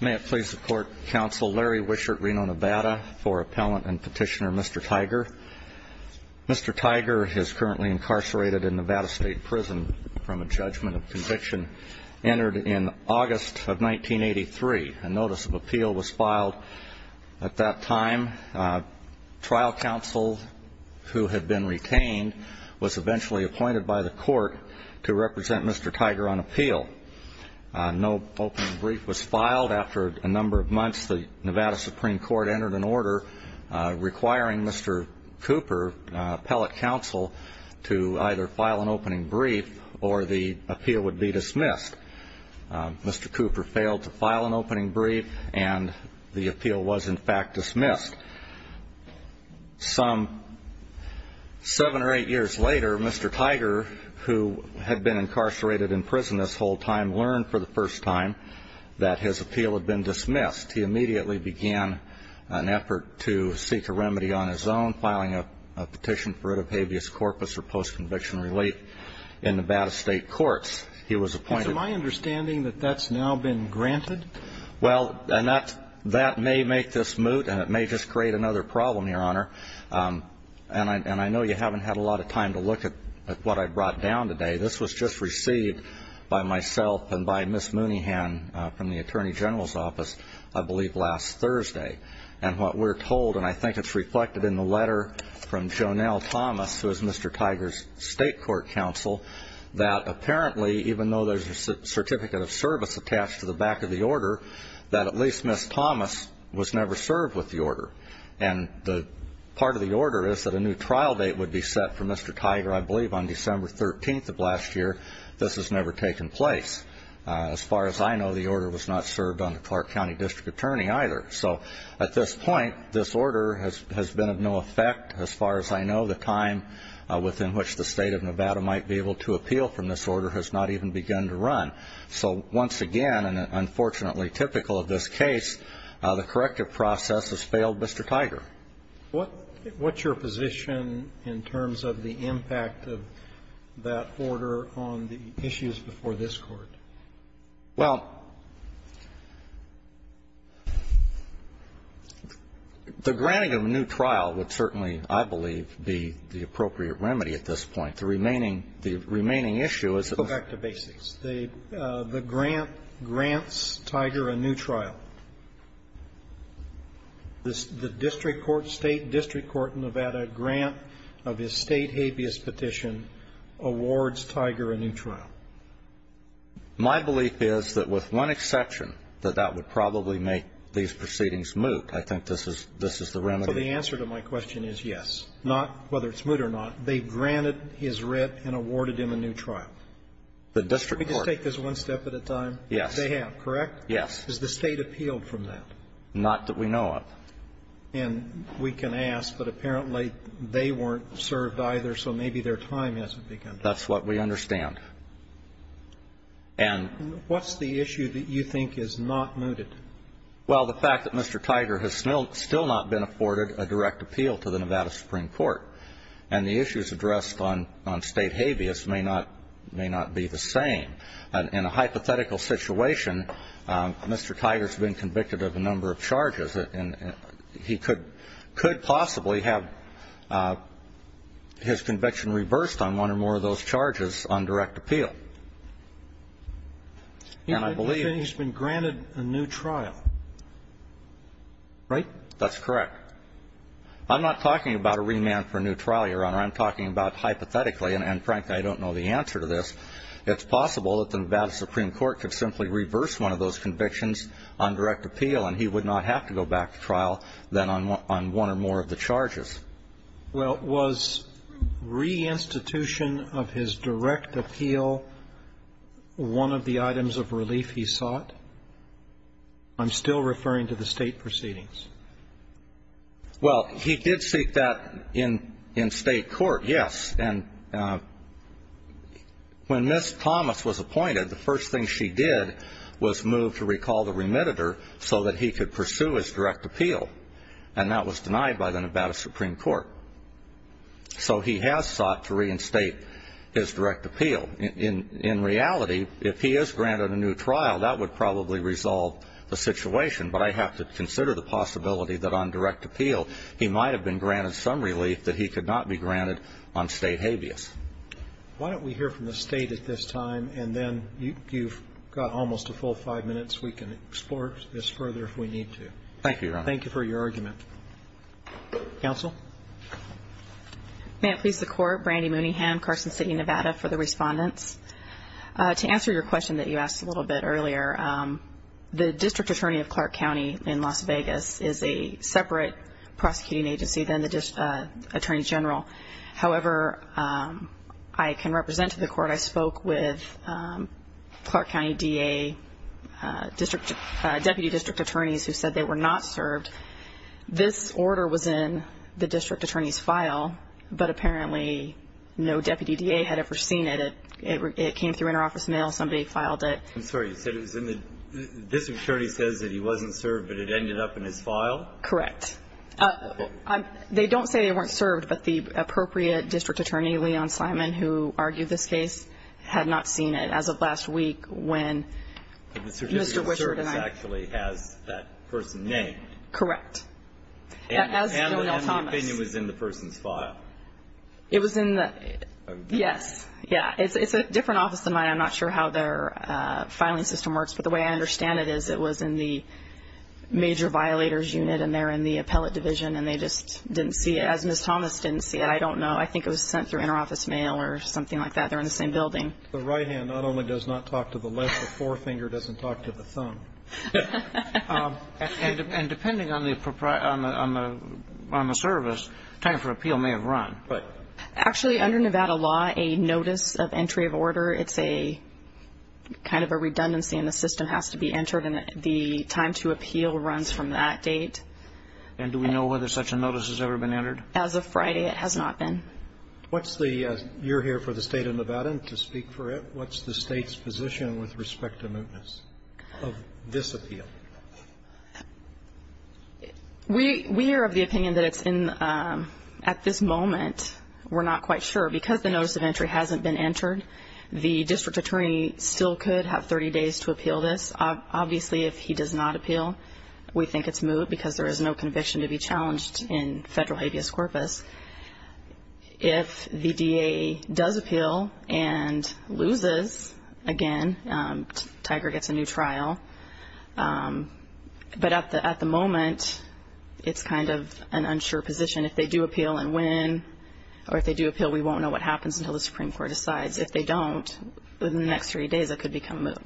May it please the Court, Counsel Larry Wishart, Reno, Nevada for Appellant and Petitioner Mr. Tiger. Mr. Tiger is currently incarcerated in Nevada State Prison from a judgment of conviction entered in August of 1983. A notice of appeal was filed at that time. Trial counsel who had been retained was eventually appointed by the Court to represent Mr. Tiger on appeal. No opening brief was filed. After a number of months, the Nevada Supreme Court entered an order requiring Mr. Cooper, appellate counsel, to either file an opening brief or the appeal would be dismissed. Mr. Cooper failed to file an opening brief and the appeal was in fact dismissed. Some seven or eight years later, Mr. Tiger, who had been incarcerated in prison this whole time, learned for the first time that his appeal had been dismissed. He immediately began an effort to seek a remedy on his own, filing a petition for it of habeas corpus or post-conviction relief in Nevada State Courts. He was appointed So my understanding that that's now been granted? Well, and that may make this moot and it may just create another problem, Your Honor. And I know you haven't had a lot of time to look at what I brought down today. This was just received by myself and by Ms. Mooneyhan from the Attorney General's office, I believe last Thursday. And what we're told, and I think it's reflected in the letter from Jonelle Thomas, who is Mr. Tiger's state court counsel, that apparently even though there's a certificate of service attached to the back of the order, that at least Ms. Thomas was never served with the order. And the part of the order is that a new trial date would be set for Mr. Tiger, I believe, on December 13th of last year. This has never taken place. As far as I know, the order was not served on the Clark County District Attorney either. So at this point, this order has been of no effect. As far as I know, the time within which the state of Nevada might be able to appeal from this order has not even begun to run. So once again, and unfortunately typical of this case, the corrective process has failed Mr. Tiger. What's your position in terms of the impact of that order on the issues before this Court? Well, the granting of a new trial would certainly, I believe, be the appropriate remedy at this point. The remaining issue is that the order was not served. The grant grants Tiger a new trial. The district court, state district court in Nevada grant of his state habeas petition awards Tiger a new trial. My belief is that with one exception, that that would probably make these proceedings moot. I think this is the remedy. So the answer to my question is yes, not whether it's moot or not. They granted his writ and awarded him a new trial. The district court. Can we just take this one step at a time? Yes. They have, correct? Yes. Has the state appealed from that? Not that we know of. And we can ask, but apparently they weren't served either, so maybe their time hasn't begun to run. That's what we understand. And ---- What's the issue that you think is not mooted? Well, the fact that Mr. Tiger has still not been afforded a direct appeal to the Nevada Supreme Court, and the issues addressed on state habeas may not be the same. In a hypothetical situation, Mr. Tiger has been convicted of a number of charges. And he could possibly have his conviction reversed on one or more of those charges on direct appeal. And I believe ---- You're saying he's been granted a new trial, right? That's correct. I'm not talking about a remand for a new trial, Your Honor. I'm talking about hypothetically, and, frankly, I don't know the answer to this, it's possible that the Nevada Supreme Court could simply reverse one of those convictions on direct appeal, and he would not have to go back to trial then on one or more of the charges. Well, was reinstitution of his direct appeal one of the items of relief he sought? I'm still referring to the state proceedings. Well, he did seek that in state court, yes. And when Ms. Thomas was appointed, the first thing she did was move to recall the remitter so that he could pursue his direct appeal. And that was denied by the Nevada Supreme Court. So he has sought to reinstate his direct appeal. In reality, if he is granted a new trial, that would probably resolve the situation. But I have to consider the possibility that on direct appeal, he might have been granted some relief that he could not be granted on state habeas. Why don't we hear from the state at this time, and then you've got almost a full five minutes. We can explore this further if we need to. Thank you, Your Honor. Thank you for your argument. Counsel? May it please the Court, Brandi Mooneyham, Carson City, Nevada, for the respondents. To answer your question that you asked a little bit earlier, the district attorney of Clark County in Las Vegas is a separate prosecuting agency than the attorney general. However, I can represent to the Court, I spoke with Clark County DA, Deputy District Attorneys who said they were not served. This order was in the district attorney's file, but apparently no Deputy DA had ever seen it. It came through interoffice mail. Somebody filed it. I'm sorry, you said it was in the district attorney says that he wasn't served, but it ended up in his file? Correct. They don't say they weren't served, but the appropriate district attorney, Leon Simon, who argued this case, had not seen it as of last week when Mr. Richard and I... But the certificate of service actually has that person named. Correct. And the opinion was in the person's file. It was in the... Yes. Yeah. It's a different office than mine. I'm not sure how they're filing system works, but the way I understand it is it was in the major violators unit and they're in the appellate division and they just didn't see it as Ms. Thomas didn't see it. I don't know. I think it was sent through interoffice mail or something like that. They're in the same building. The right hand not only does not talk to the left, the forefinger doesn't talk to the thumb. And depending on the service, time for appeal may have run, but... And the time to appeal runs from that date. And do we know whether such a notice has ever been entered? As of Friday, it has not been. What's the... You're here for the state of Nevada to speak for it. What's the state's position with respect to mootness of this appeal? We are of the opinion that it's in... At this moment, we're not quite sure. Because the notice of entry hasn't been entered, the district attorney still could have 30 days to appeal this. Obviously, if he does not appeal, we think it's moot because there is no conviction to be challenged in federal habeas corpus. If the DA does appeal and loses, again, Tiger gets a new trial. But at the moment, it's kind of an unsure position. If they do appeal and win, or if they do appeal, we won't know what happens until the Supreme Court decides. If they don't, within the next three days, it could become moot.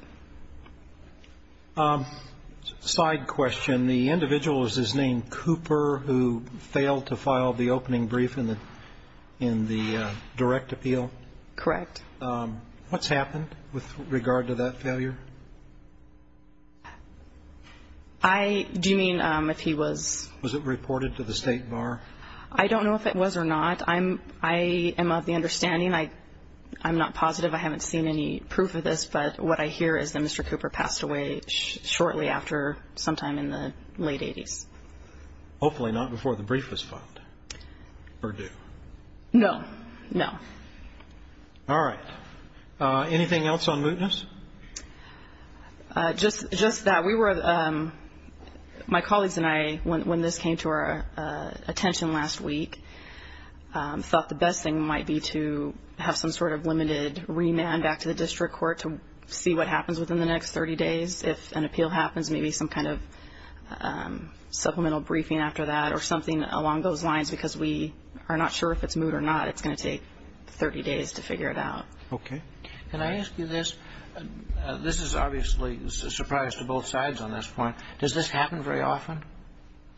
Side question. The individual, is his name Cooper, who failed to file the opening brief in the direct appeal? Correct. What's happened with regard to that failure? I... Do you mean if he was... Was it reported to the state bar? I don't know if it was or not. I'm... I am of the understanding. I'm not positive. I haven't seen any proof of this. But what I hear is that Mr. Cooper passed away shortly after, sometime in the late 80s. Hopefully not before the brief was filed, or do? No, no. All right. Anything else on mootness? Just that we were... My colleagues and I, when this came to our attention last week, we thought the best thing might be to have some sort of limited remand back to the district court to see what happens within the next 30 days. If an appeal happens, maybe some kind of supplemental briefing after that, or something along those lines, because we are not sure if it's moot or not. It's going to take 30 days to figure it out. Okay. Can I ask you this? This is obviously a surprise to both sides on this point. Does this happen very often?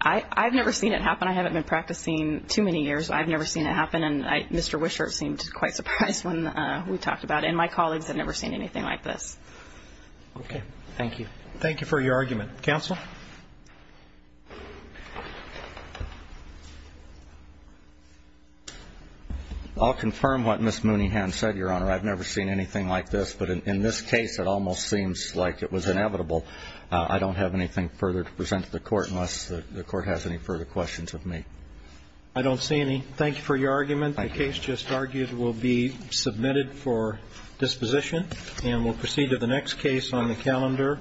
I've never seen it happen. I haven't been practicing too many years. I've never seen it happen. And Mr. Wishart seemed quite surprised when we talked about it. And my colleagues have never seen anything like this. Okay. Thank you. Thank you for your argument. Counsel? I'll confirm what Ms. Mooney had said, Your Honor. I've never seen anything like this. But in this case, it almost seems like it was inevitable. I don't have anything further to present to the court, unless the court has any further questions of me. I don't see any. Thank you for your argument. The case just argued will be submitted for disposition. And we'll proceed to the next case on the calendar.